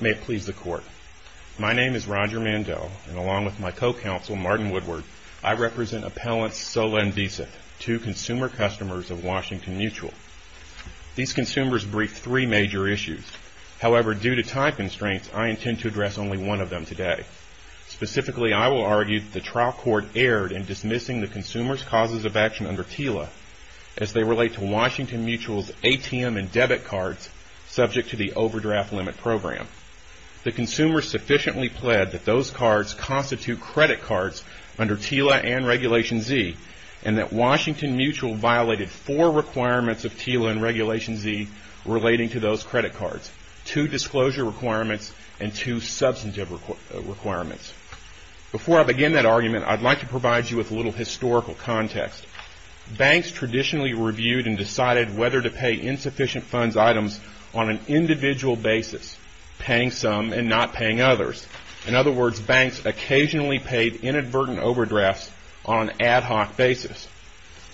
May it please the Court. My name is Roger Mandell, and along with my co-counsel, Martin Woodward, I represent Appellants Sola and Vesith, two consumer customers of Washington Mutual. These consumers briefed three major issues. However, due to time constraints, I intend to address only one of them today. Specifically, I will argue that the trial court erred in dismissing the consumers' causes of action under TILA, as they relate to Washington Mutual's ATM and debit cards subject to the overdraft limit program. The consumers sufficiently pled that those cards constitute credit cards under TILA and Regulation Z, and that Washington Mutual violated four requirements of TILA and Regulation Z relating to those credit cards, two disclosure requirements and two substantive requirements. Before I begin that argument, I'd like to provide you with a little historical context. Banks traditionally reviewed and decided whether to pay insufficient funds items on an individual basis, paying some and not paying others. In other words, banks occasionally paid inadvertent overdrafts on an ad hoc basis.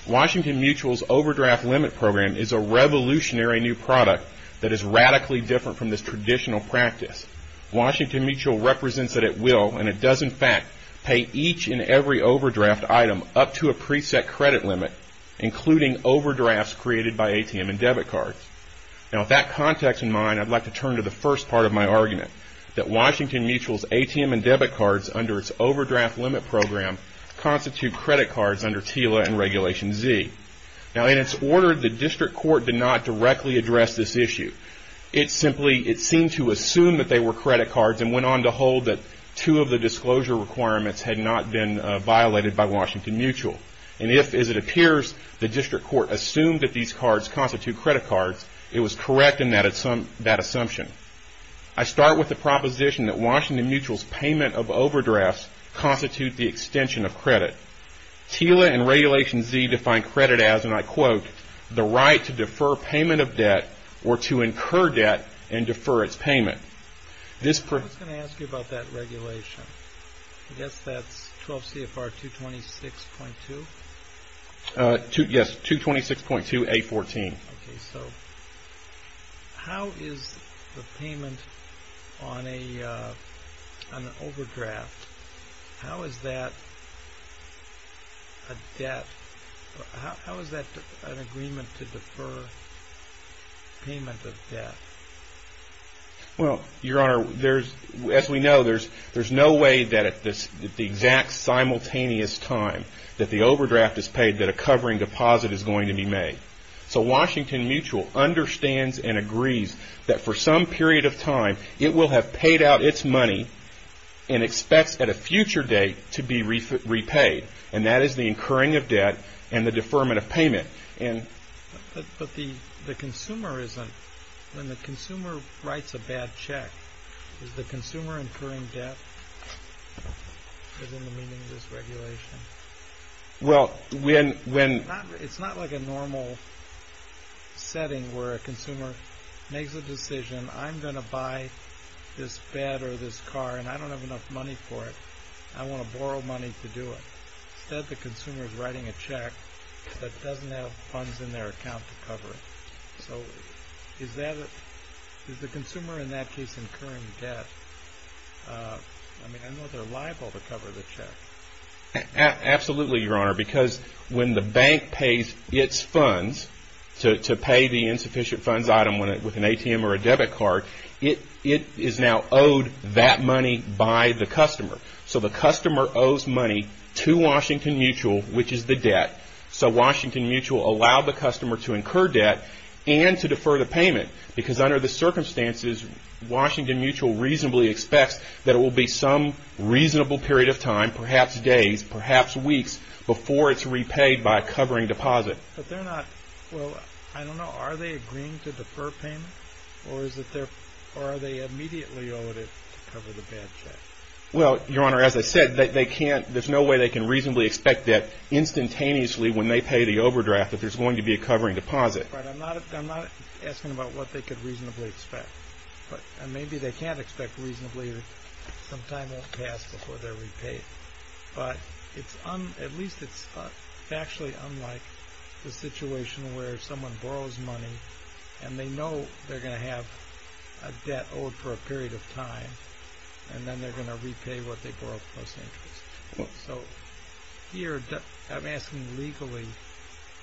Washington Mutual's overdraft limit program is a revolutionary new product that is radically different from this traditional practice. Washington Mutual represents that it will, and it does in fact, pay each and every overdraft item up to a preset credit limit, including overdrafts created by ATM and debit cards. Now, with that context in mind, I'd like to turn to the first part of my argument, that Washington Mutual's ATM and debit cards under its overdraft limit program constitute credit cards under TILA and Regulation Z. Now, in its order, the district court did not directly address this issue. It simply, it seemed to assume that they were credit cards and went on to hold that two of the disclosure requirements had not been violated by Washington Mutual. And if, is it appears, the district court assumed that these cards constitute credit cards, it was correct in that assumption. I start with the proposition that Washington Mutual's payment of overdrafts constitute the extension of credit. TILA and Regulation Z define credit as, and I quote, the right to defer payment of debt or to incur debt and defer its payment. I was going to ask you about that regulation. I guess that's 12 CFR 226.2? Yes, 226.2A14. Okay, so how is the payment on an overdraft, how is that a debt, how is that an agreement to defer payment of debt? Well, Your Honor, there's, as we know, there's no way that at the exact simultaneous time that the overdraft is paid that a covering deposit is going to be made. So Washington Mutual understands and agrees that for some period of time it will have paid out its money and expects at a future date to be repaid. And that is the incurring of debt and the deferment of payment. But the consumer isn't, when the consumer writes a bad check, is the consumer incurring debt? Isn't the meaning of this regulation? Well, when It's not like a normal setting where a consumer makes a decision, I'm going to buy this bed or this car and I don't have enough money for it. I want to borrow money to do it. Instead the consumer is writing a check that doesn't have funds in their account to cover it. So is that, is the consumer in that case incurring debt? I mean, I know they're liable to cover the check. Absolutely, Your Honor, because when the bank pays its funds to pay the insufficient funds item with an ATM or a debit card, it is now owed that money by the customer. So the customer owes money to Washington Mutual, which is the debt. So Washington Mutual allowed the customer to incur debt and to defer the payment. Because under the circumstances, Washington Mutual reasonably expects that it will be some reasonable period of time, perhaps days, perhaps weeks, before it's repaid by a covering deposit. But they're not, well, I don't know, are they agreeing to defer payment? Or is it they're, or are they immediately owed it to cover the bad check? Well, Your Honor, as I said, they can't, there's no way they can reasonably expect that instantaneously when they pay the overdraft if there's going to be a covering deposit. But I'm not, I'm not asking about what they could reasonably expect. But maybe they can't expect reasonably that some time won't pass before they're repaid. But it's, at least it's factually unlike the situation where someone borrows money and they know they're owed for a period of time, and then they're going to repay what they borrowed plus interest. So here, I'm asking legally,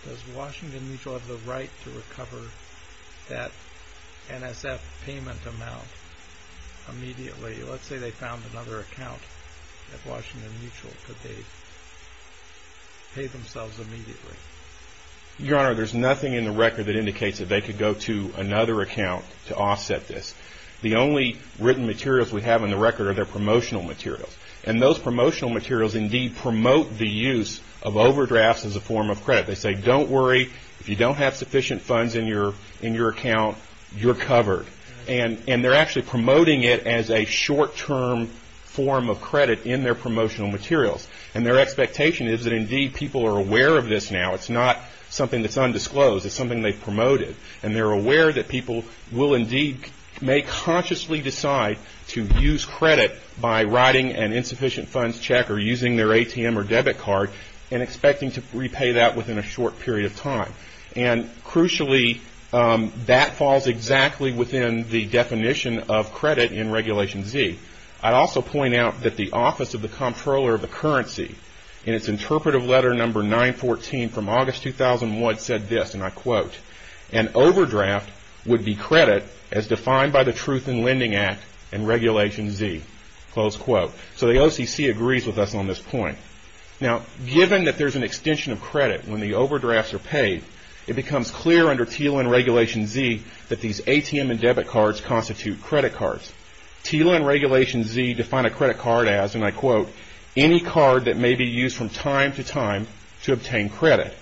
does Washington Mutual have the right to recover that NSF payment amount immediately? Let's say they found another account at Washington Mutual. Could they pay themselves immediately? Your Honor, there's nothing in the record that indicates that they could go to another account to offset this. The only written materials we have in the record are their promotional materials. And those promotional materials indeed promote the use of overdrafts as a form of credit. They say, don't worry, if you don't have sufficient funds in your account, you're covered. And they're actually promoting it as a short-term form of credit in their promotional materials. And their expectation is that indeed people are aware of this now. It's not something that's undisclosed. It's something they've promoted. And they're aware that people will indeed, may consciously decide to use credit by writing an insufficient funds check or using their ATM or debit card and expecting to repay that within a short period of time. And crucially, that falls exactly within the definition of credit in Regulation Z. I'd also point out that the Office of the Comptroller of the Currency in its interpretive letter number 914 from August 2001 said this, and I quote, an overdraft would be credit as defined by the Truth in Lending Act and Regulation Z, close quote. So the OCC agrees with us on this point. Now, given that there's an extension of credit when the overdrafts are paid, it becomes clear under TILA and Regulation Z that these ATM and debit cards constitute credit cards. TILA and Regulation Z define a credit card as, and I quote, any card that may be used from time to time to obtain credit.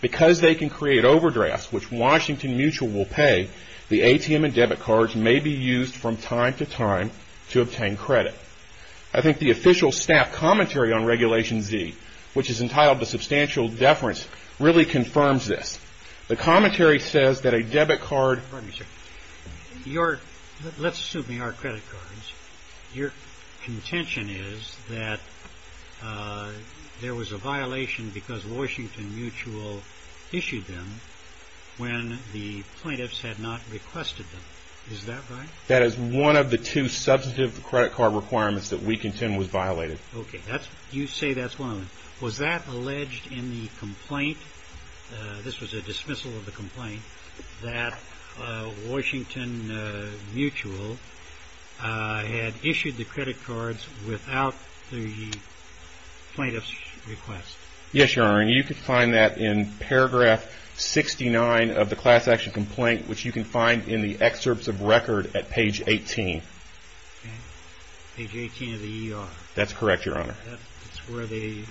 Because they can create overdrafts, which Washington Mutual will pay, the ATM and debit cards may be used from time to time to obtain credit. I think the official staff commentary on Regulation Z, which is entitled The Substantial Deference, really confirms this. The commentary says that a debit card... Pardon me, sir. Let's assume they are credit cards. Your contention is that there was a claim that Washington Mutual issued them when the plaintiffs had not requested them. Is that right? That is one of the two substantive credit card requirements that we contend was violated. Okay. You say that's one of them. Was that alleged in the complaint, this was a dismissal of the complaint, that Washington Mutual had issued the credit cards without the plaintiffs' request? Yes, Your Honor. And you can find that in paragraph 69 of the class action complaint, which you can find in the excerpts of record at page 18. Okay. Page 18 of the ER. That's correct, Your Honor. That's where they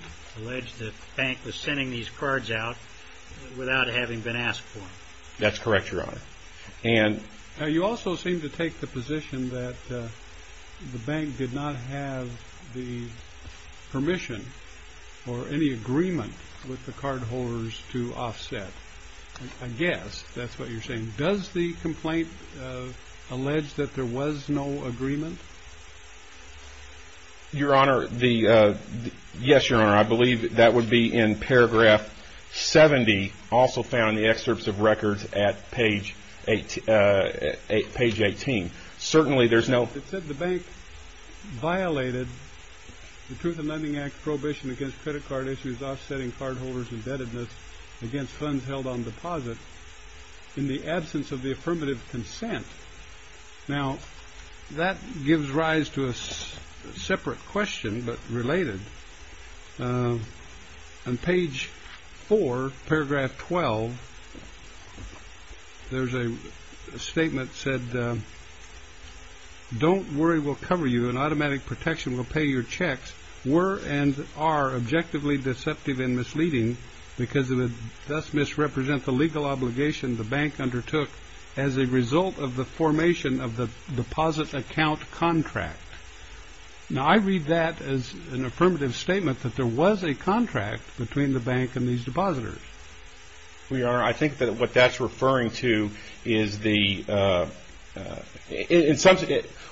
alleged that the bank was sending these cards out without having been asked for them. That's correct, Your Honor. And... Now, you also seem to take the position that the bank did not have the permission or any agreement with the cardholders to offset. I guess that's what you're saying. Does the complaint allege that there was no agreement? Your Honor, the... Yes, Your Honor. I believe that would be in paragraph 70, also found in the excerpts of record at page 18. Certainly, there's no... It said the bank violated the Truth in Lending Act prohibition against credit card issues offsetting cardholders' indebtedness against funds held on deposit in the absence of the affirmative consent. Now, that gives rise to a separate question, but related. On page 4, paragraph 12, there's a statement that said, Don't worry, we'll cover you and automatic protection will pay your checks were and are objectively deceptive and misleading because it would thus misrepresent the legal obligation the bank undertook as a result of the formation of the deposit account contract. Now, I read that as an affirmative statement that there was a contract between the bank and these depositors. Your Honor, I think that what that's referring to is the... In some...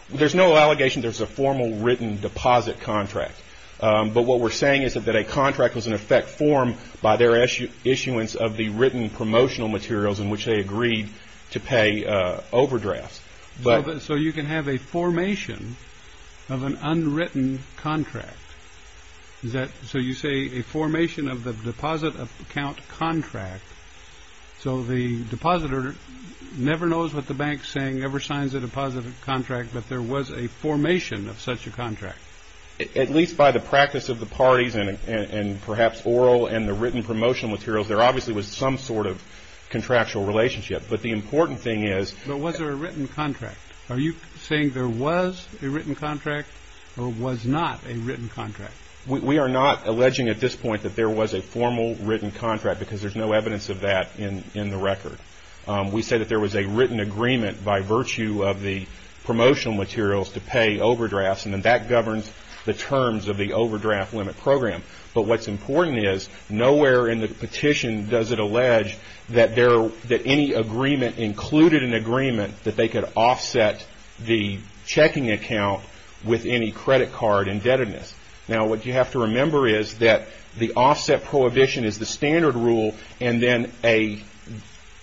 There's no allegation there's a formal written deposit contract, but what we're saying is that a contract was in effect formed by their issuance of the written promotional materials in which they agreed to pay overdrafts. So you can have a formation of an unwritten contract. Is that... So you say a formation of the deposit account contract, so the depositor never knows what the bank's saying, never signs a deposit contract, but there was a formation of such a contract. At least by the practice of the parties and perhaps oral and the written promotional materials, there obviously was some sort of contractual relationship, but the important thing is... But was there a written contract? Are you saying there was a written contract or was not a written contract? We are not alleging at this point that there was a formal written contract because there's no evidence of that in the record. We say that there was a written agreement by virtue of the promotional materials to pay overdrafts, and then that governs the terms of the overdraft limit program. But what's important is nowhere in the petition does it allege that any agreement included an agreement that they could offset the checking account with any credit card indebtedness. Now, what you have to remember is that the offset prohibition is the standard rule, and then an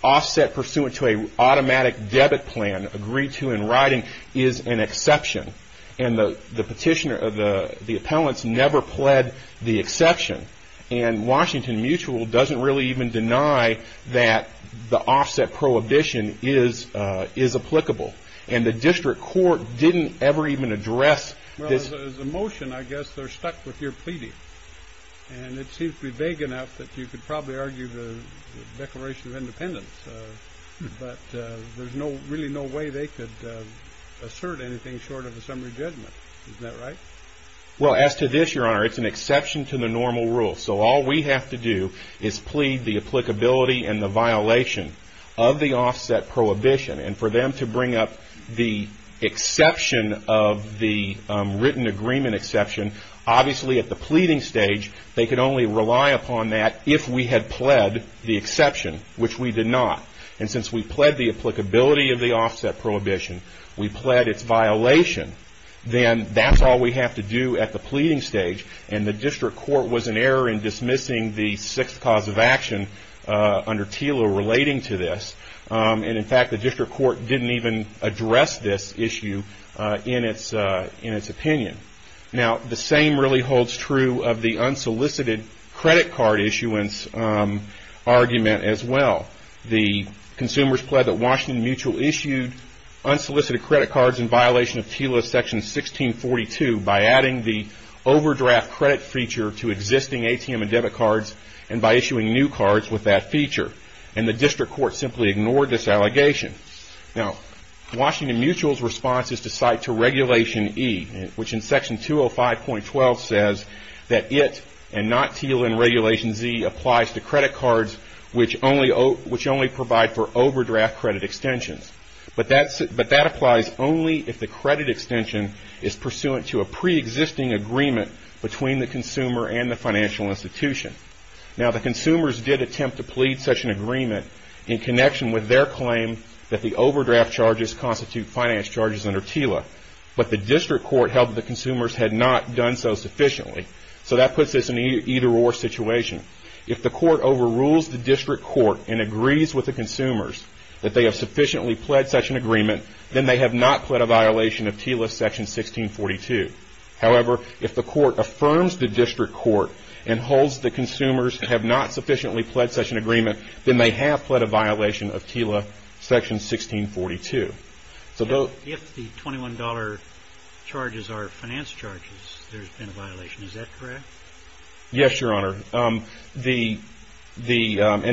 offset pursuant to an automatic debit plan agreed to in writing is an exception. And the petitioner... The appellants never pled the exception, and Washington Mutual doesn't really even deny that the offset prohibition is applicable. And the district court didn't ever even address... Well, as a motion, I guess they're stuck with your pleading. And it seems to be big enough that you could probably argue the Declaration of Independence, but there's really no way they could assert anything short of a summary judgment. Isn't that right? Well, as to this, Your Honor, it's an exception to the normal rule. So all we have to do is plead the applicability and the violation of the offset prohibition. And for them to bring up the exception of the written agreement exception, obviously at the pleading stage they could only rely upon that if we had pled the exception, which we did not. And since we pled the applicability of the offset prohibition, we pled its violation, then that's all we have to do at the pleading stage. And the district court was in error in dismissing the sixth cause of action under TILA relating to this. And in fact, the district court didn't even address this issue in its opinion. Now, the same really holds true of the unsolicited credit card issuance argument as well. The consumers pled that Washington Mutual issued unsolicited credit cards in violation of TILA Section 1642 by adding the overdraft credit feature to existing ATM and debit cards and by issuing new cards with that feature. And the district court simply ignored this allegation. Now, Washington Mutual's response is to cite to Regulation E, which in Section 205.12 says that it and not TILA in Regulation Z applies to credit cards which only provide for overdraft credit extensions. But that applies only if the credit extension is pursuant to a preexisting agreement between the consumer and the financial institution. Now, the consumers did attempt to plead such an agreement in connection with their claim that the overdraft charges constitute finance charges under TILA. But the district court held that the consumers had not done so sufficiently. So that puts this in an either-or situation. If the court overrules the district court and agrees with the consumers that they have sufficiently pled such an agreement, then they have not pled a violation of TILA Section 1642. However, if the court affirms the district court and holds the consumers have not sufficiently pled such an agreement, then they have pled a violation of TILA Section 1642. If the $21 charges are finance charges, there's been a violation. Is that correct? Yes, Your Honor. And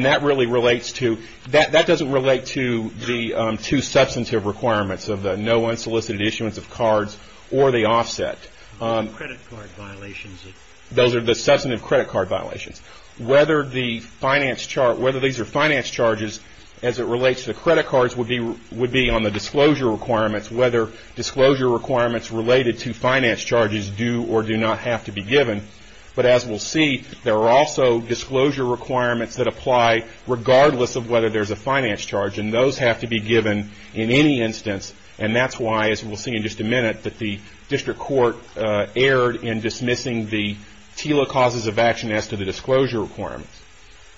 that really relates to – that doesn't relate to the two substantive requirements of the no unsolicited issuance of cards or the offset. Credit card violations. Those are the substantive credit card violations. Whether the finance – whether these are finance charges as it relates to credit cards would be on the disclosure requirements, whether disclosure requirements related to finance charges do or do not have to be given. But as we'll see, there are also disclosure requirements that apply regardless of whether there's a finance charge. And those have to be given in any instance. And that's why, as we'll see in just a minute, that the district court erred in dismissing the TILA causes of action as to the disclosure requirements.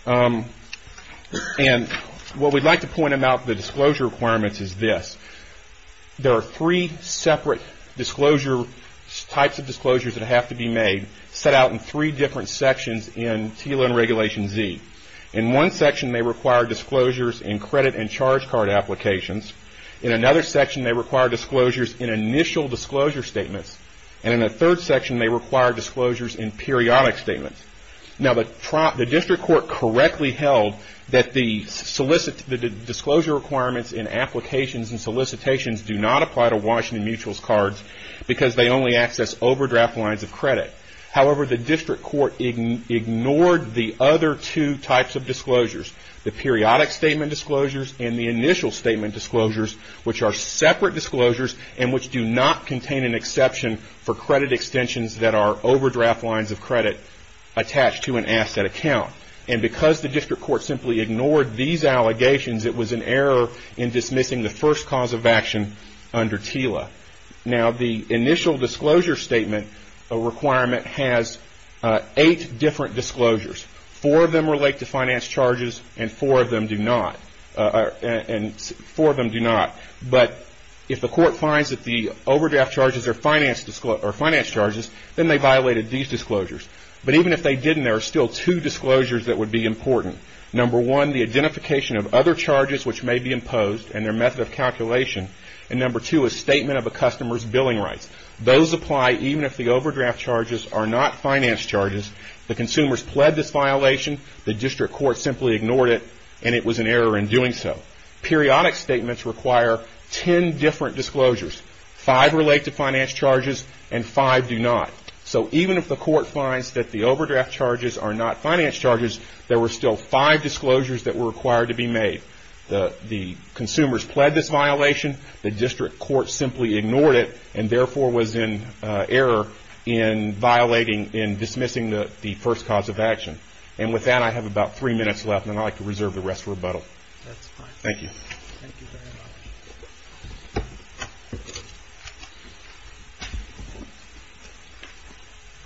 And what we'd like to point about the disclosure requirements is this. There are three separate disclosure – types of disclosures that have to be made, set out in three different sections in TILA and Regulation Z. In one section, they require disclosures in credit and charge card applications. In another section, they require disclosures in initial disclosure statements. And in the third section, they require disclosures in periodic statements. Now, the district court correctly held that the disclosure requirements in applications and solicitations do not apply to Washington Mutuals cards because they only access overdraft lines of credit. However, the district court ignored the other two types of disclosures, the periodic statement disclosures and the initial statement disclosures, which are separate disclosures and which do not contain an exception for credit extensions that are overdraft lines of credit attached to an asset account. And because the district court simply ignored these allegations, it was an error in dismissing the first cause of action under TILA. Now, the initial disclosure statement requirement has eight different disclosures. Four of them relate to finance charges and four of them do not. But if the court finds that the overdraft charges are finance charges, then they violated these disclosures. But even if they didn't, there are still two disclosures that would be important. Number one, the identification of other charges which may be imposed and their method of calculation. And number two, a statement of a customer's billing rights. Those apply even if the overdraft charges are not finance charges. The consumers pled this violation, the district court simply ignored it, and it was an error in doing so. Periodic statements require ten different disclosures. Five relate to finance charges and five do not. So even if the court finds that the overdraft charges are not finance charges, there were still five disclosures that were required to be made. The consumers pled this violation, the district court simply ignored it, and therefore was in error in violating, in dismissing the first cause of action. And with that, I have about three minutes left, and I'd like to reserve the rest for rebuttal. Thank you. Thank you very much.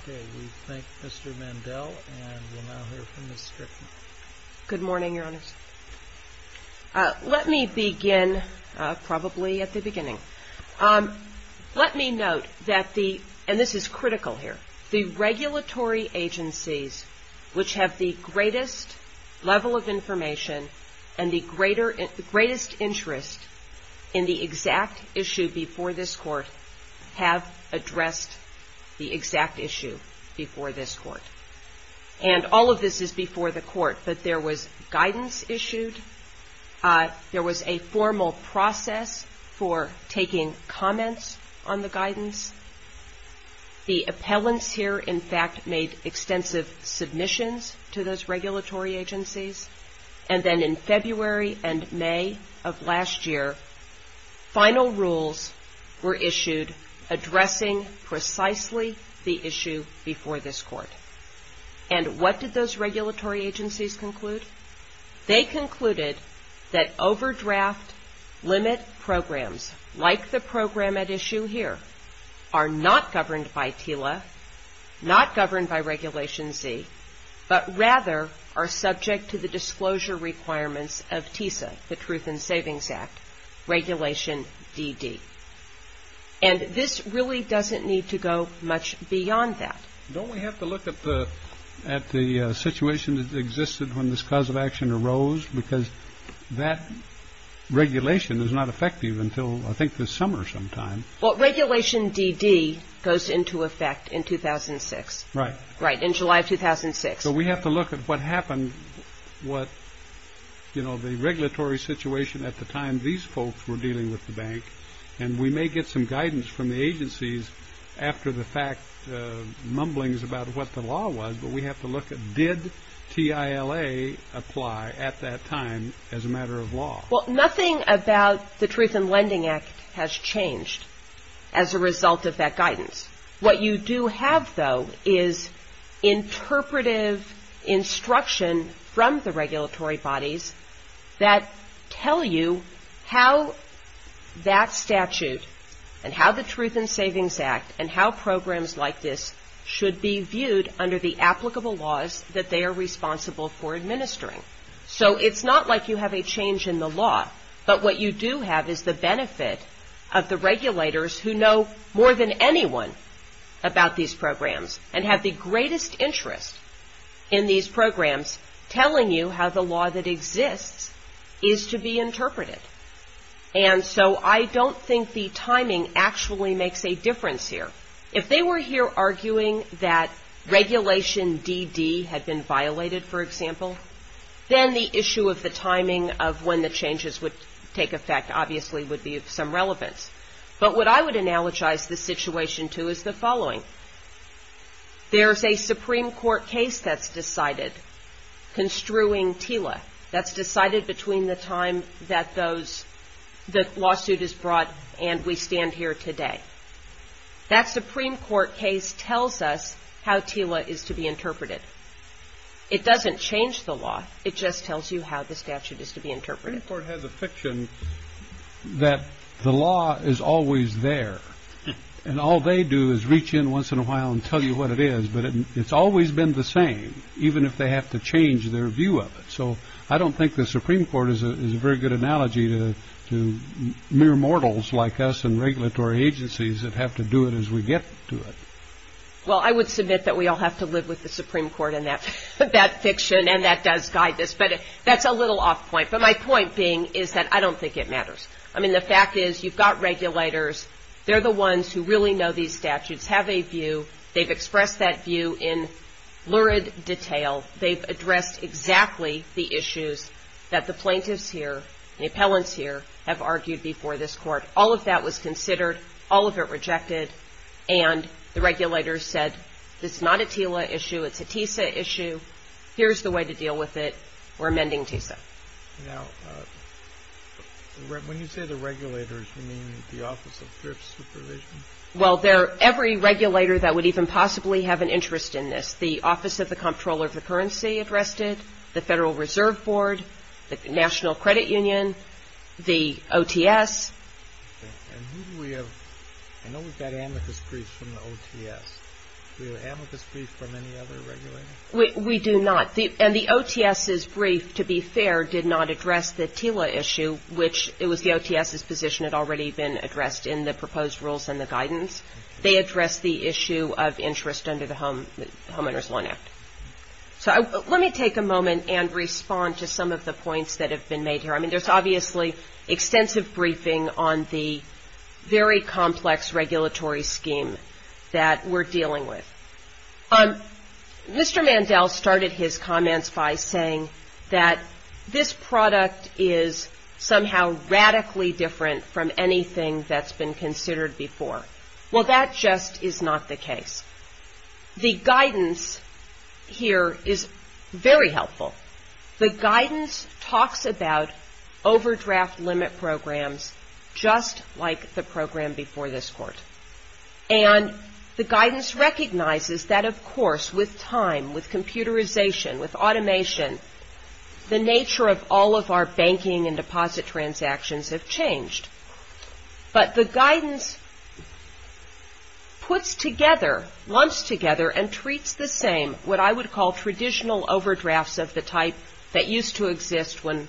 Okay. We thank Mr. Mandel, and we'll now hear from Ms. Strickland. Good morning, Your Honors. Let me begin probably at the beginning. Let me note that the, and this is critical here, the regulatory agencies which have the greatest level of information and the greatest interest in the exact issue before this court have addressed the exact issue before this court. And all of this is before the court, but there was guidance issued. There was a formal process for taking comments on the guidance. The appellants here, in fact, made extensive submissions to those regulatory agencies. And then in February and May of last year, final rules were issued addressing precisely the issue before this court. And what did those regulatory agencies conclude? They concluded that overdraft limit programs, like the program at issue here, are not governed by TILA, not governed by Regulation Z, but rather are subject to the disclosure requirements of TISA, the Truth in Savings Act, Regulation DD. And this really doesn't need to go much beyond that. Don't we have to look at the situation that existed when this cause of action arose? Because that regulation is not effective until I think this summer sometime. Well, Regulation DD goes into effect in 2006. Right. Right, in July of 2006. So we have to look at what happened, what, you know, And we may get some guidance from the agencies after the fact mumblings about what the law was, but we have to look at did TILA apply at that time as a matter of law? Well, nothing about the Truth in Lending Act has changed as a result of that guidance. What you do have, though, is interpretive instruction from the regulatory bodies that tell you how that statute and how the Truth in Savings Act and how programs like this should be viewed under the applicable laws that they are responsible for administering. So it's not like you have a change in the law, but what you do have is the benefit of the regulators who know more than anyone about these programs and have the greatest interest in these programs telling you how the law that exists is to be interpreted. And so I don't think the timing actually makes a difference here. If they were here arguing that Regulation DD had been violated, for example, then the issue of the timing of when the changes would take effect obviously would be of some relevance. But what I would analogize the situation to is the following. There's a Supreme Court case that's decided construing TILA, that's decided between the time that the lawsuit is brought and we stand here today. That Supreme Court case tells us how TILA is to be interpreted. It doesn't change the law. It just tells you how the statute is to be interpreted. The Supreme Court has a fiction that the law is always there and all they do is reach in once in a while and tell you what it is, but it's always been the same, even if they have to change their view of it. So I don't think the Supreme Court is a very good analogy to mere mortals like us and regulatory agencies that have to do it as we get to it. Well, I would submit that we all have to live with the Supreme Court and that fiction, and that does guide this, but that's a little off point. But my point being is that I don't think it matters. I mean, the fact is you've got regulators. They're the ones who really know these statutes, have a view. They've expressed that view in lurid detail. They've addressed exactly the issues that the plaintiffs here, the appellants here, have argued before this court. All of that was considered, all of it rejected, and the regulators said it's not a TILA issue, it's a TISA issue. Here's the way to deal with it. We're amending TISA. Now, when you say the regulators, you mean the Office of Thrift Supervision? Well, every regulator that would even possibly have an interest in this, the Office of the Comptroller of the Currency addressed it, the Federal Reserve Board, the National Credit Union, the OTS. And who do we have? I know we've got amicus briefs from the OTS. Do we have amicus briefs from any other regulators? We do not. And the OTS's brief, to be fair, did not address the TILA issue, which it was the OTS's position had already been addressed in the proposed rules and the guidance. They addressed the issue of interest under the Homeowners' Law Act. So let me take a moment and respond to some of the points that have been made here. I mean, there's obviously extensive briefing on the very complex regulatory scheme that we're dealing with. Mr. Mandel started his comments by saying that this product is somehow radically different from anything that's been considered before. Well, that just is not the case. The guidance here is very helpful. The guidance talks about overdraft limit programs just like the program before this Court. And the guidance recognizes that, of course, with time, with computerization, with automation, the nature of all of our banking and deposit transactions have changed. But the guidance puts together, lumps together and treats the same what I would call traditional overdrafts of the type that used to exist when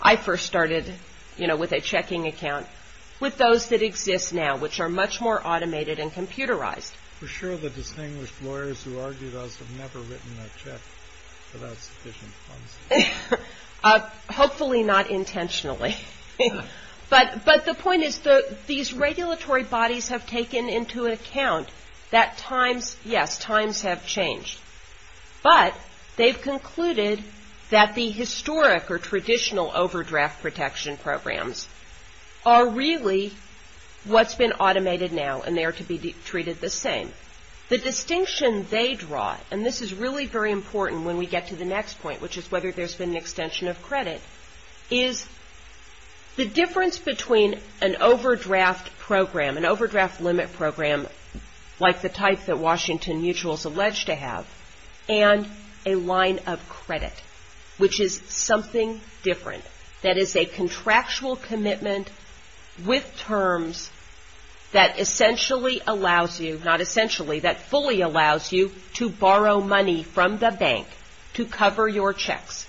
I first started, you know, with a checking account, with those that exist now, which are much more automated and computerized. We're sure the distinguished lawyers who argued us have never written a check without sufficient funds. Hopefully not intentionally. But the point is these regulatory bodies have taken into account that times, yes, times have changed. But they've concluded that the historic or traditional overdraft protection programs are really what's been automated now and they are to be treated the same. The distinction they draw, and this is really very important when we get to the next point, which is whether there's been an extension of credit, is the difference between an overdraft program, an overdraft limit program like the type that Washington Mutual is alleged to have, and a line of credit, which is something different, that is a contractual commitment with terms that essentially allows you, not essentially, that fully allows you to borrow money from the bank to cover your checks.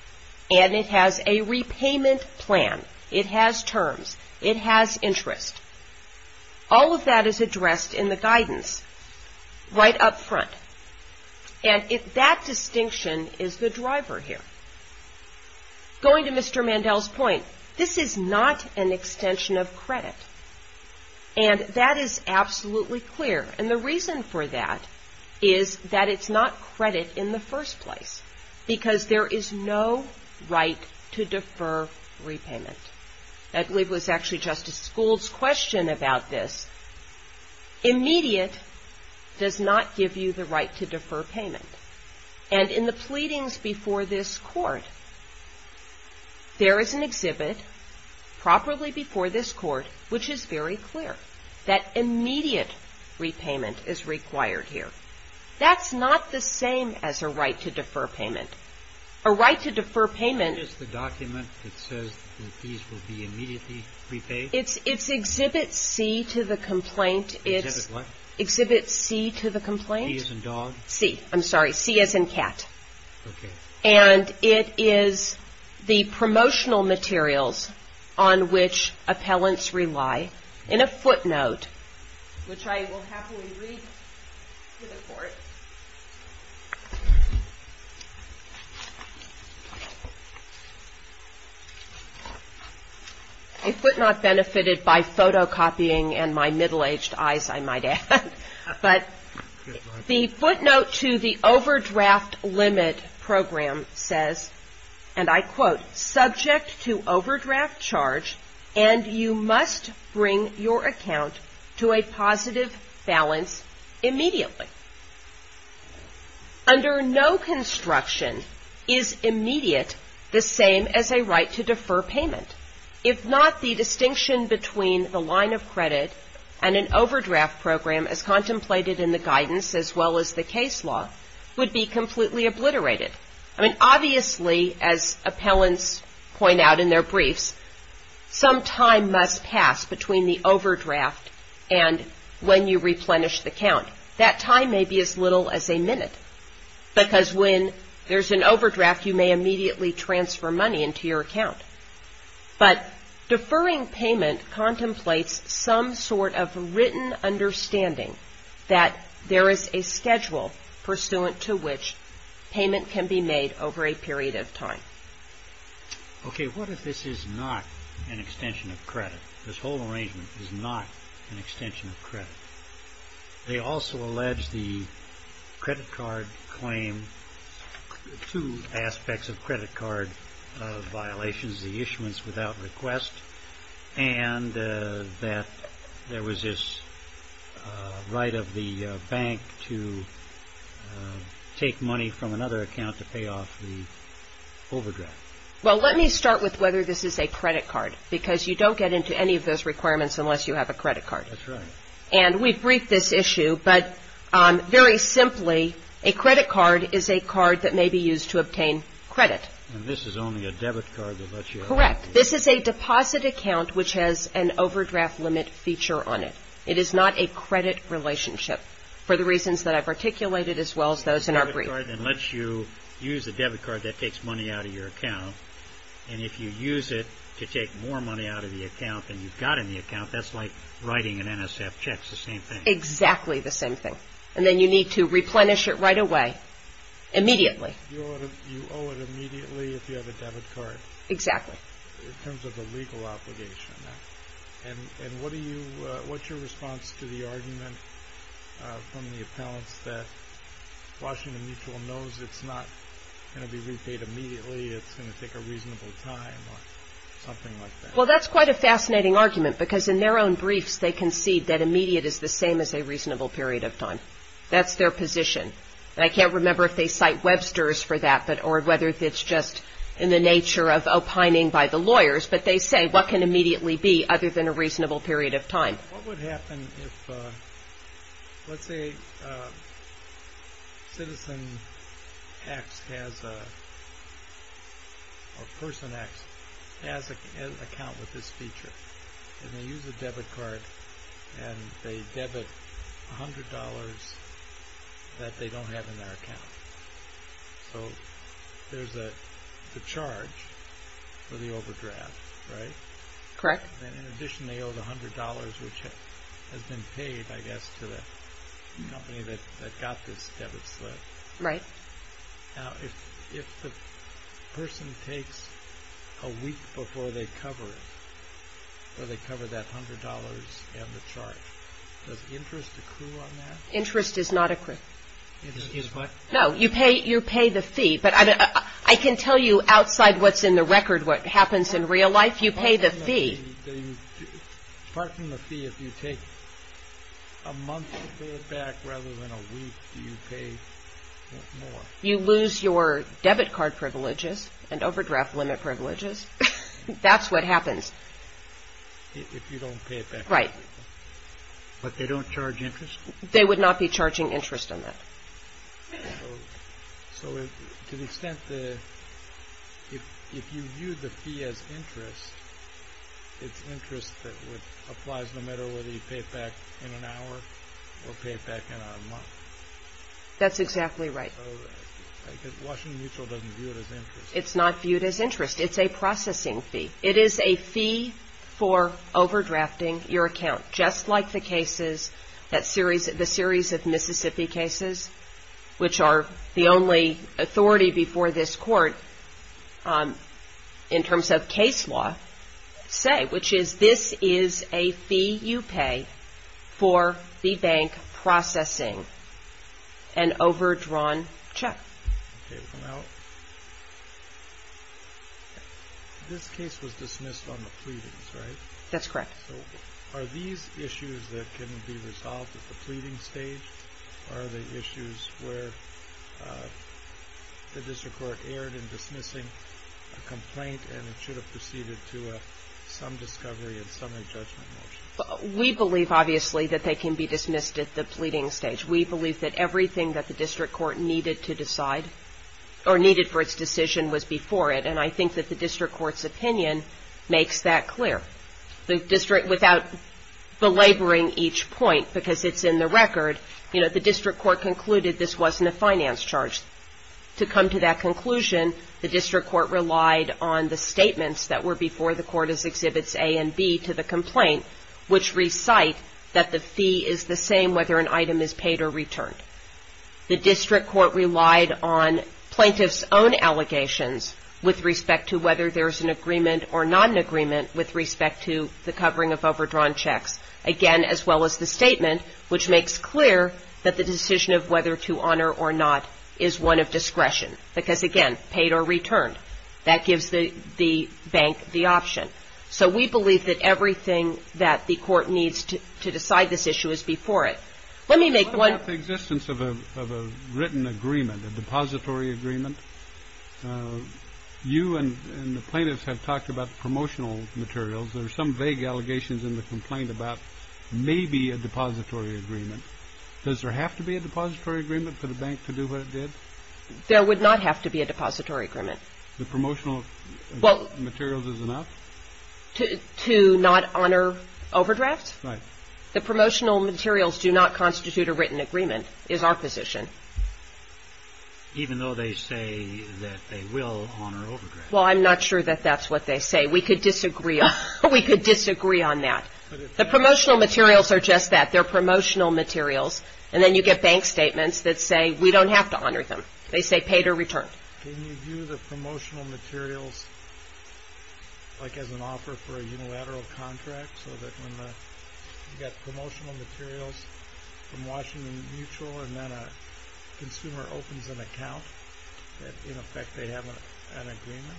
And it has a repayment plan. It has terms. It has interest. All of that is addressed in the guidance right up front. And that distinction is the driver here. Going to Mr. Mandel's point, this is not an extension of credit. And that is absolutely clear. And the reason for that is that it's not credit in the first place because there is no right to defer repayment. I believe it was actually Justice School's question about this. Immediate does not give you the right to defer payment. And in the pleadings before this Court, there is an exhibit properly before this Court which is very clear that immediate repayment is required here. That's not the same as a right to defer payment. A right to defer payment. Is the document that says that these will be immediately repaid? It's exhibit C to the complaint. Exhibit what? Exhibit C to the complaint. C as in dog? C. I'm sorry. C as in cat. Okay. And it is the promotional materials on which appellants rely in a footnote, which I will happily read to the Court. A footnote benefited by photocopying and my middle-aged eyes, I might add. But the footnote to the overdraft limit program says, and I quote, subject to overdraft charge and you must bring your account to a positive balance immediately. Under no construction is immediate the same as a right to defer payment. If not, the distinction between the line of credit and an overdraft program, as contemplated in the guidance as well as the case law, would be completely obliterated. I mean, obviously, as appellants point out in their briefs, some time must pass between the overdraft and when you replenish the account. That time may be as little as a minute because when there's an overdraft, you may immediately transfer money into your account. But deferring payment contemplates some sort of written understanding that there is a schedule pursuant to which payment can be made over a period of time. Okay, what if this is not an extension of credit? This whole arrangement is not an extension of credit. They also allege the credit card claim, two aspects of credit card violations, the issuance without request, and that there was this right of the bank to take money from another account to pay off the overdraft. Well, let me start with whether this is a credit card, because you don't get into any of those requirements unless you have a credit card. That's right. And we briefed this issue, but very simply, a credit card is a card that may be used to obtain credit. And this is only a debit card that lets you – Correct. This is a deposit account which has an overdraft limit feature on it. It is not a credit relationship for the reasons that I've articulated as well as those in our brief. It's a debit card that lets you use a debit card that takes money out of your account, and if you use it to take more money out of the account than you've got in the account, that's like writing an NSF check. It's the same thing. Exactly the same thing. And then you need to replenish it right away, immediately. You owe it immediately if you have a debit card. Exactly. In terms of the legal obligation on that. And what's your response to the argument from the appellants that Washington Mutual knows it's not going to be repaid immediately, it's going to take a reasonable time or something like that? Well, that's quite a fascinating argument, because in their own briefs they concede that immediate is the same as a reasonable period of time. That's their position. And I can't remember if they cite Webster's for that, or whether it's just in the nature of opining by the lawyers, but they say what can immediately be other than a reasonable period of time. What would happen if, let's say, Citizen Acts has a, or Person Acts, has an account with this feature, and they use a debit card and they debit $100 that they don't have in their account. So there's a charge for the overdraft, right? Correct. And in addition they owe the $100 which has been paid, I guess, to the company that got this debit slip. Right. Now, if the person takes a week before they cover it, or they cover that $100 and the charge, does interest accrue on that? Interest does not accrue. No, you pay the fee. But I can tell you outside what's in the record what happens in real life. You pay the fee. Apart from the fee, if you take a month to pay it back rather than a week, do you pay more? You lose your debit card privileges and overdraft limit privileges. That's what happens. If you don't pay it back. Right. But they don't charge interest? They would not be charging interest on that. So to the extent that if you view the fee as interest, it's interest that applies no matter whether you pay it back in an hour or pay it back in a month. That's exactly right. Washington Mutual doesn't view it as interest. It's not viewed as interest. It's a processing fee. It is a fee for overdrafting your account, just like the cases, the series of Mississippi cases, which are the only authority before this court in terms of case law, say, which is this is a fee you pay for the bank processing an overdrawn check. Okay. Now, this case was dismissed on the pleadings, right? That's correct. So are these issues that can be resolved at the pleading stage? Are they issues where the district court erred in dismissing a complaint and it should have proceeded to some discovery and summary judgment motion? We believe, obviously, that they can be dismissed at the pleading stage. We believe that everything that the district court needed to decide or needed for its decision was before it, and I think that the district court's opinion makes that clear. The district, without belaboring each point because it's in the record, you know, the district court concluded this wasn't a finance charge. To come to that conclusion, the district court relied on the statements that were before the court as Exhibits A and B to the complaint, which recite that the fee is the same whether an item is paid or returned. The district court relied on plaintiff's own allegations with respect to whether there's an agreement or non-agreement with respect to the covering of overdrawn checks. Again, as well as the statement, which makes clear that the decision of whether to honor or not is one of discretion because, again, paid or returned. That gives the bank the option. So we believe that everything that the court needs to decide this issue is before it. Let me make one – What about the existence of a written agreement, a depository agreement? You and the plaintiffs have talked about promotional materials. There are some vague allegations in the complaint about maybe a depository agreement. Does there have to be a depository agreement for the bank to do what it did? There would not have to be a depository agreement. The promotional materials is enough? To not honor overdrafts? Right. The promotional materials do not constitute a written agreement is our position. Even though they say that they will honor overdrafts? Well, I'm not sure that that's what they say. We could disagree on that. The promotional materials are just that. They're promotional materials. And then you get bank statements that say we don't have to honor them. They say paid or returned. Can you do the promotional materials like as an offer for a unilateral contract so that when you get promotional materials from Washington Mutual and then a consumer opens an account, that in effect they have an agreement?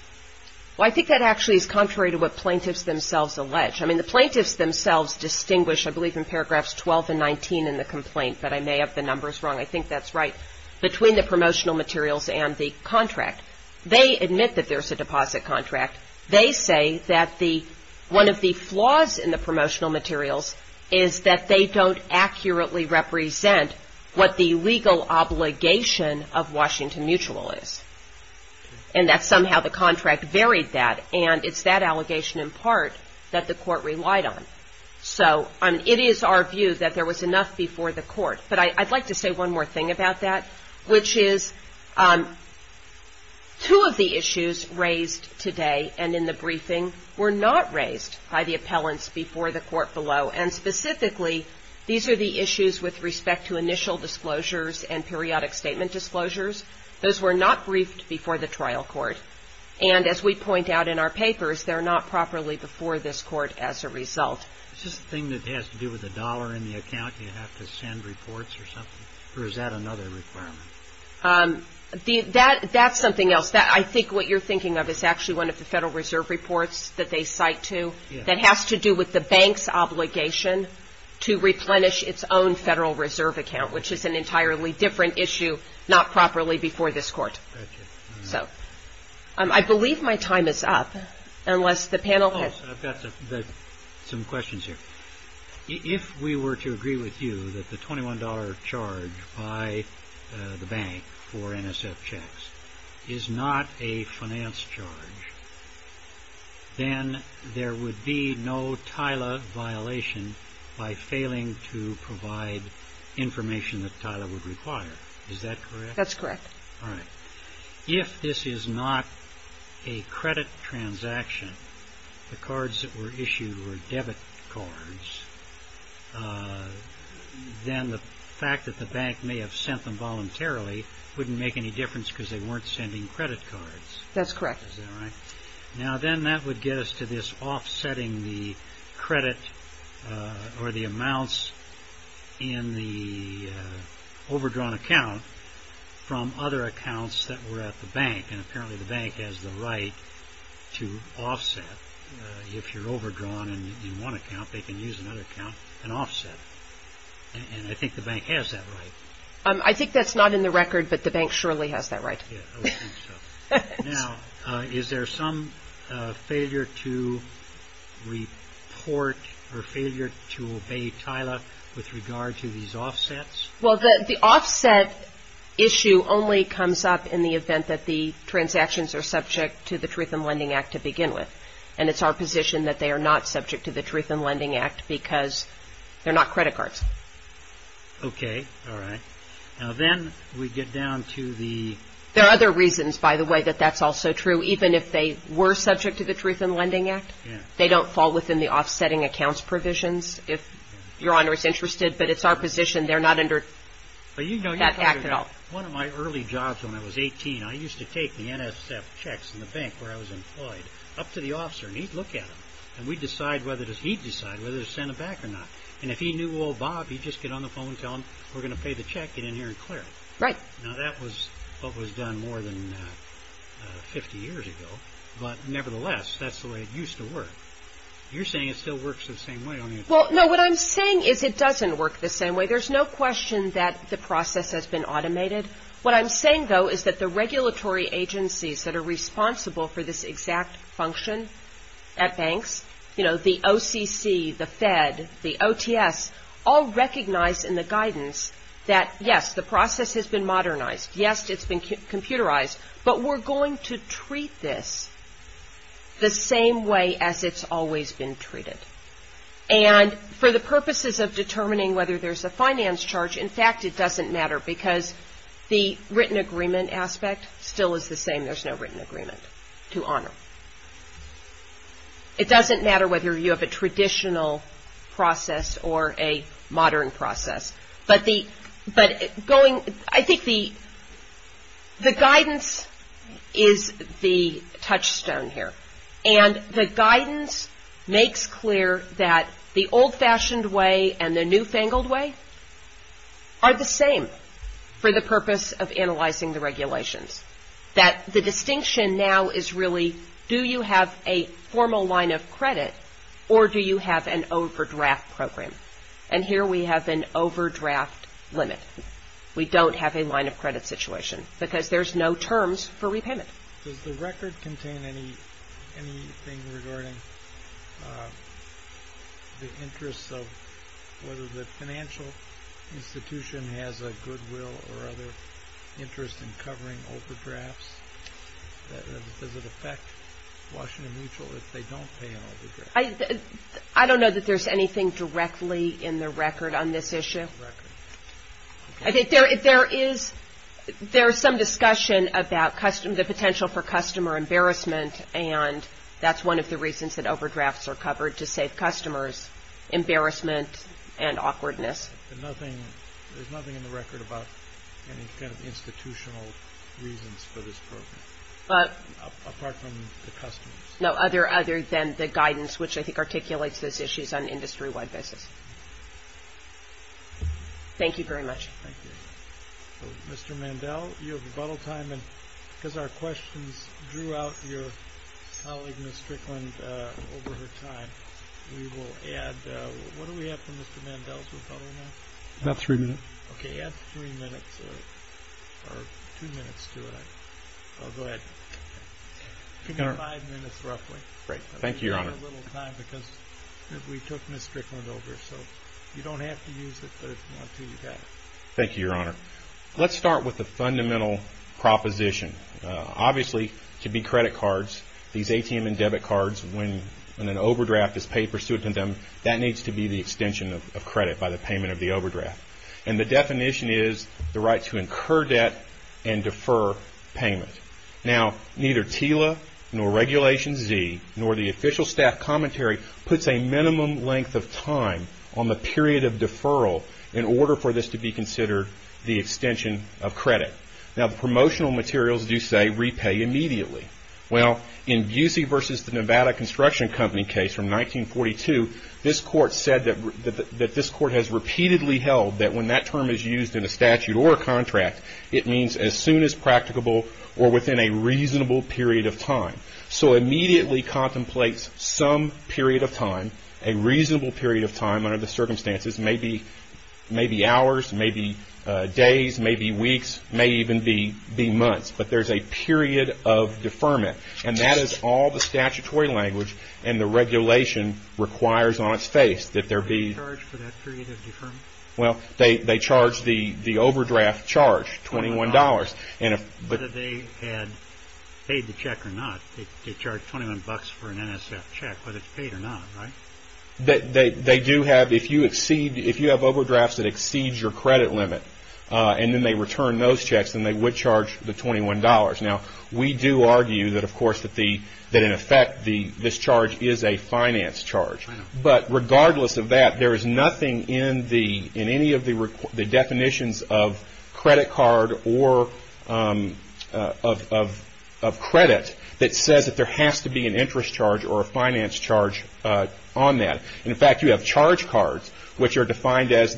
Well, I think that actually is contrary to what plaintiffs themselves allege. I mean, the plaintiffs themselves distinguish, I believe, in paragraphs 12 and 19 in the complaint, but I may have the numbers wrong. I think that's right, between the promotional materials and the contract. They admit that there's a deposit contract. They say that one of the flaws in the promotional materials is that they don't accurately represent what the legal obligation of Washington Mutual is, and that somehow the contract varied that, and it's that allegation in part that the court relied on. So it is our view that there was enough before the court. But I'd like to say one more thing about that, which is two of the issues raised today and in the briefing were not raised by the appellants before the court below, and specifically these are the issues with respect to initial disclosures and periodic statement disclosures. Those were not briefed before the trial court, and as we point out in our papers, they're not properly before this court as a result. Is this a thing that has to do with the dollar in the account? Do you have to send reports or something, or is that another requirement? That's something else. I think what you're thinking of is actually one of the Federal Reserve reports that they cite to. That has to do with the bank's obligation to replenish its own Federal Reserve account, which is an entirely different issue, not properly before this court. I believe my time is up, unless the panel has... I've got some questions here. If we were to agree with you that the $21 charge by the bank for NSF checks is not a finance charge, then there would be no TILA violation by failing to provide information that TILA would require. Is that correct? That's correct. All right. If this is not a credit transaction, the cards that were issued were debit cards, then the fact that the bank may have sent them voluntarily wouldn't make any difference because they weren't sending credit cards. That's correct. Is that right? Now, then that would get us to this offsetting the credit or the amounts in the overdrawn account from other accounts that were at the bank, and apparently the bank has the right to offset. If you're overdrawn in one account, they can use another account and offset. And I think the bank has that right. I think that's not in the record, but the bank surely has that right. Yes, I would think so. Now, is there some failure to report or failure to obey TILA with regard to these offsets? Well, the offset issue only comes up in the event that the transactions are subject to the Truth in Lending Act to begin with, and it's our position that they are not subject to the Truth in Lending Act because they're not credit cards. Okay. All right. Now, then we get down to the – There are other reasons, by the way, that that's also true. Even if they were subject to the Truth in Lending Act, they don't fall within the offsetting accounts provisions. If Your Honor is interested, but it's our position they're not under that act at all. One of my early jobs when I was 18, I used to take the NSF checks in the bank where I was employed up to the officer, and he'd look at them, and he'd decide whether to send them back or not. And if he knew old Bob, he'd just get on the phone and tell him, we're going to pay the check, get in here and clear it. Right. Now, that was what was done more than 50 years ago, but nevertheless, that's the way it used to work. You're saying it still works the same way, aren't you? Well, no, what I'm saying is it doesn't work the same way. There's no question that the process has been automated. What I'm saying, though, is that the regulatory agencies that are responsible for this exact function at banks, you know, the OCC, the Fed, the OTS, all recognize in the guidance that, yes, the process has been modernized. Yes, it's been computerized, but we're going to treat this the same way as it's always been treated. And for the purposes of determining whether there's a finance charge, in fact, it doesn't matter because the written agreement aspect still is the same. There's no written agreement to honor. It doesn't matter whether you have a traditional process or a modern process, but I think the guidance is the touchstone here, and the guidance makes clear that the old-fashioned way and the new-fangled way are the same for the purpose of analyzing the regulations, that the distinction now is really do you have a formal line of credit or do you have an overdraft program? And here we have an overdraft limit. We don't have a line of credit situation because there's no terms for repayment. Does the record contain anything regarding the interests of whether the financial institution has a goodwill or other interest in covering overdrafts? Does it affect Washington Mutual if they don't pay an overdraft? I don't know that there's anything directly in the record on this issue. I think there is some discussion about the potential for customer embarrassment, and that's one of the reasons that overdrafts are covered, to save customers embarrassment and awkwardness. But there's nothing in the record about any kind of institutional reasons for this program, apart from the customers? No, other than the guidance, which I think articulates those issues on an industry-wide basis. Thank you very much. Thank you. Mr. Mandel, you have rebuttal time, and because our questions drew out your colleague, Ms. Strickland, over her time, we will add, what do we have for Mr. Mandel's rebuttal now? About three minutes. Okay, add three minutes, or two minutes to it. I'll go ahead. Give me five minutes, roughly. Thank you, Your Honor. We need a little time because we took Ms. Strickland over, so you don't have to use it, but if you want to, you can. Thank you, Your Honor. Let's start with the fundamental proposition. Obviously, to be credit cards, these ATM and debit cards, when an overdraft is paid pursuant to them, that needs to be the extension of credit by the payment of the overdraft. And the definition is the right to incur debt and defer payment. Now, neither TILA nor Regulation Z nor the official staff commentary puts a minimum length of time on the period of deferral in order for this to be considered the extension of credit. Now, the promotional materials do say repay immediately. Well, in Busey v. The Nevada Construction Company case from 1942, this court said that this court has repeatedly held that when that term is used in a statute or a contract, it means as soon as practicable or within a reasonable period of time. So immediately contemplates some period of time, a reasonable period of time under the circumstances, may be hours, may be days, may be weeks, may even be months, but there's a period of deferment. And that is all the statutory language and the regulation requires on its face. Do they charge for that period of deferment? Well, they charge the overdraft charge, $21. Whether they had paid the check or not, they charge $21 for an NSF check, whether it's paid or not, right? They do have, if you exceed, if you have overdrafts that exceed your credit limit and then they return those checks, then they would charge the $21. Now, we do argue that, of course, that in effect this charge is a finance charge. But regardless of that, there is nothing in any of the definitions of credit card or of credit that says that there has to be an interest charge or a finance charge on that. In fact, you have charge cards, which are defined as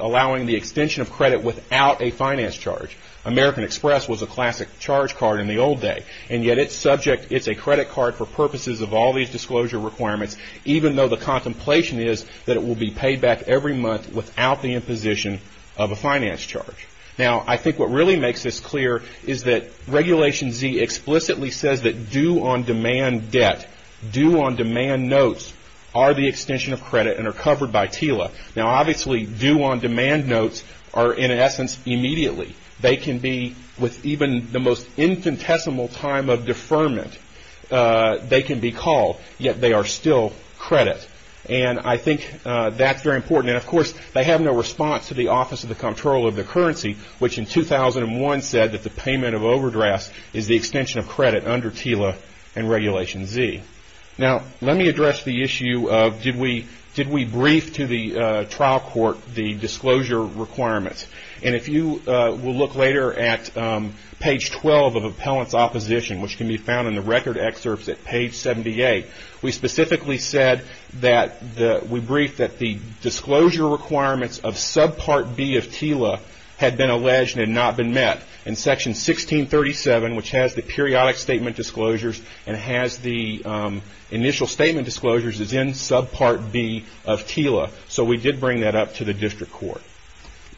allowing the extension of credit without a finance charge. American Express was a classic charge card in the old day, and yet it's subject, it's a credit card for purposes of all these disclosure requirements, even though the contemplation is that it will be paid back every month without the imposition of a finance charge. Now, I think what really makes this clear is that Regulation Z explicitly says that due-on-demand debt, due-on-demand notes are the extension of credit and are covered by TILA. Now, obviously, due-on-demand notes are, in essence, immediately. They can be, with even the most infinitesimal time of deferment, they can be called, yet they are still credit. And I think that's very important. And, of course, they have no response to the Office of the Comptroller of the Currency, which in 2001 said that the payment of overdrafts is the extension of credit under TILA and Regulation Z. Now, let me address the issue of did we brief to the trial court the disclosure requirements. And if you will look later at page 12 of Appellant's Opposition, which can be found in the record excerpts at page 78, we specifically said that we briefed that the disclosure requirements of subpart B of TILA had been alleged and had not been met. And section 1637, which has the periodic statement disclosures and has the initial statement disclosures, is in subpart B of TILA. So, we did bring that up to the district court.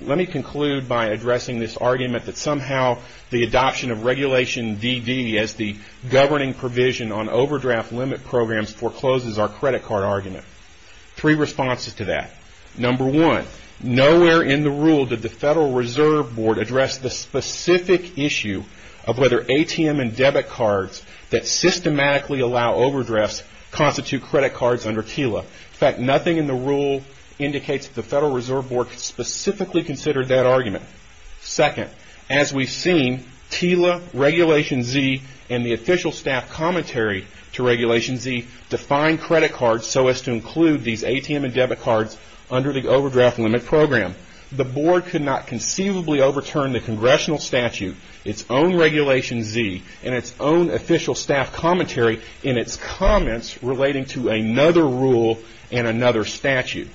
Let me conclude by addressing this argument that somehow the adoption of Regulation DD as the governing provision on overdraft limit programs forecloses our credit card argument. Three responses to that. Number one, nowhere in the rule did the Federal Reserve Board address the specific issue of whether ATM and debit cards that systematically allow overdrafts constitute credit cards under TILA. In fact, nothing in the rule indicates that the Federal Reserve Board specifically considered that argument. Second, as we've seen, TILA, Regulation Z, and the official staff commentary to Regulation Z define credit cards so as to include these ATM and debit cards under the overdraft limit program. The board could not conceivably overturn the congressional statute, its own Regulation Z, and its own official staff commentary in its comments relating to another rule and another statute.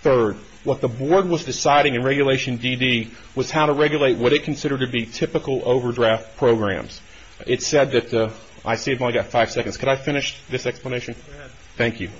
Third, what the board was deciding in Regulation DD was how to regulate what it considered to be typical overdraft programs. It said that, I see I've only got five seconds. Could I finish this explanation? Thank you.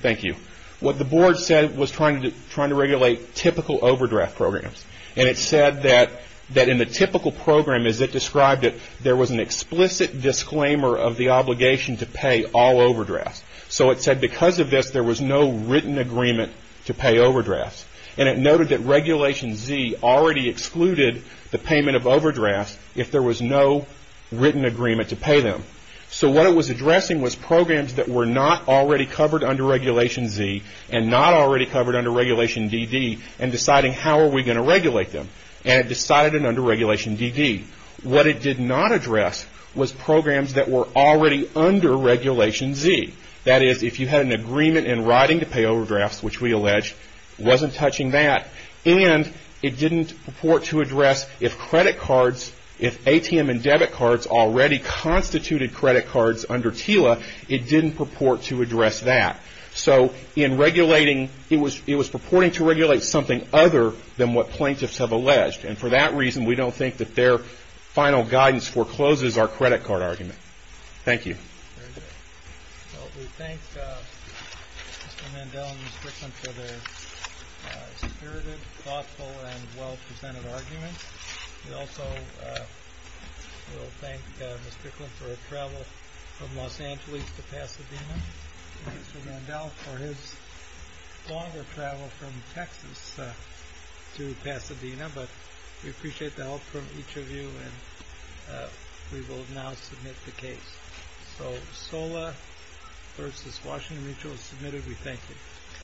Thank you. What the board said was trying to regulate typical overdraft programs. And it said that in the typical program as it described it, there was an explicit disclaimer of the obligation to pay all overdrafts. So it said because of this, there was no written agreement to pay overdrafts. And it noted that Regulation Z already excluded the payment of overdrafts if there was no written agreement to pay them. So what it was addressing was programs that were not already covered under Regulation Z and not already covered under Regulation DD and deciding how are we going to regulate them. And it decided in under Regulation DD. What it did not address was programs that were already under Regulation Z. That is, if you had an agreement in writing to pay overdrafts, which we alleged, it wasn't touching that and it didn't purport to address if credit cards, if ATM and debit cards already constituted credit cards under TILA, it didn't purport to address that. So in regulating, it was purporting to regulate something other than what plaintiffs have alleged. And for that reason, we don't think that their final guidance forecloses our credit card argument. Thank you. Very good. Well, we thank Mr. Mandel and Ms. Picklin for their spirited, thoughtful, and well-presented arguments. We also will thank Ms. Picklin for her travel from Los Angeles to Pasadena and Mr. Mandel for his longer travel from Texas to Pasadena. But we appreciate the help from each of you, and we will now submit the case. So, SOLA v. Washington Mutual is submitted. We thank you.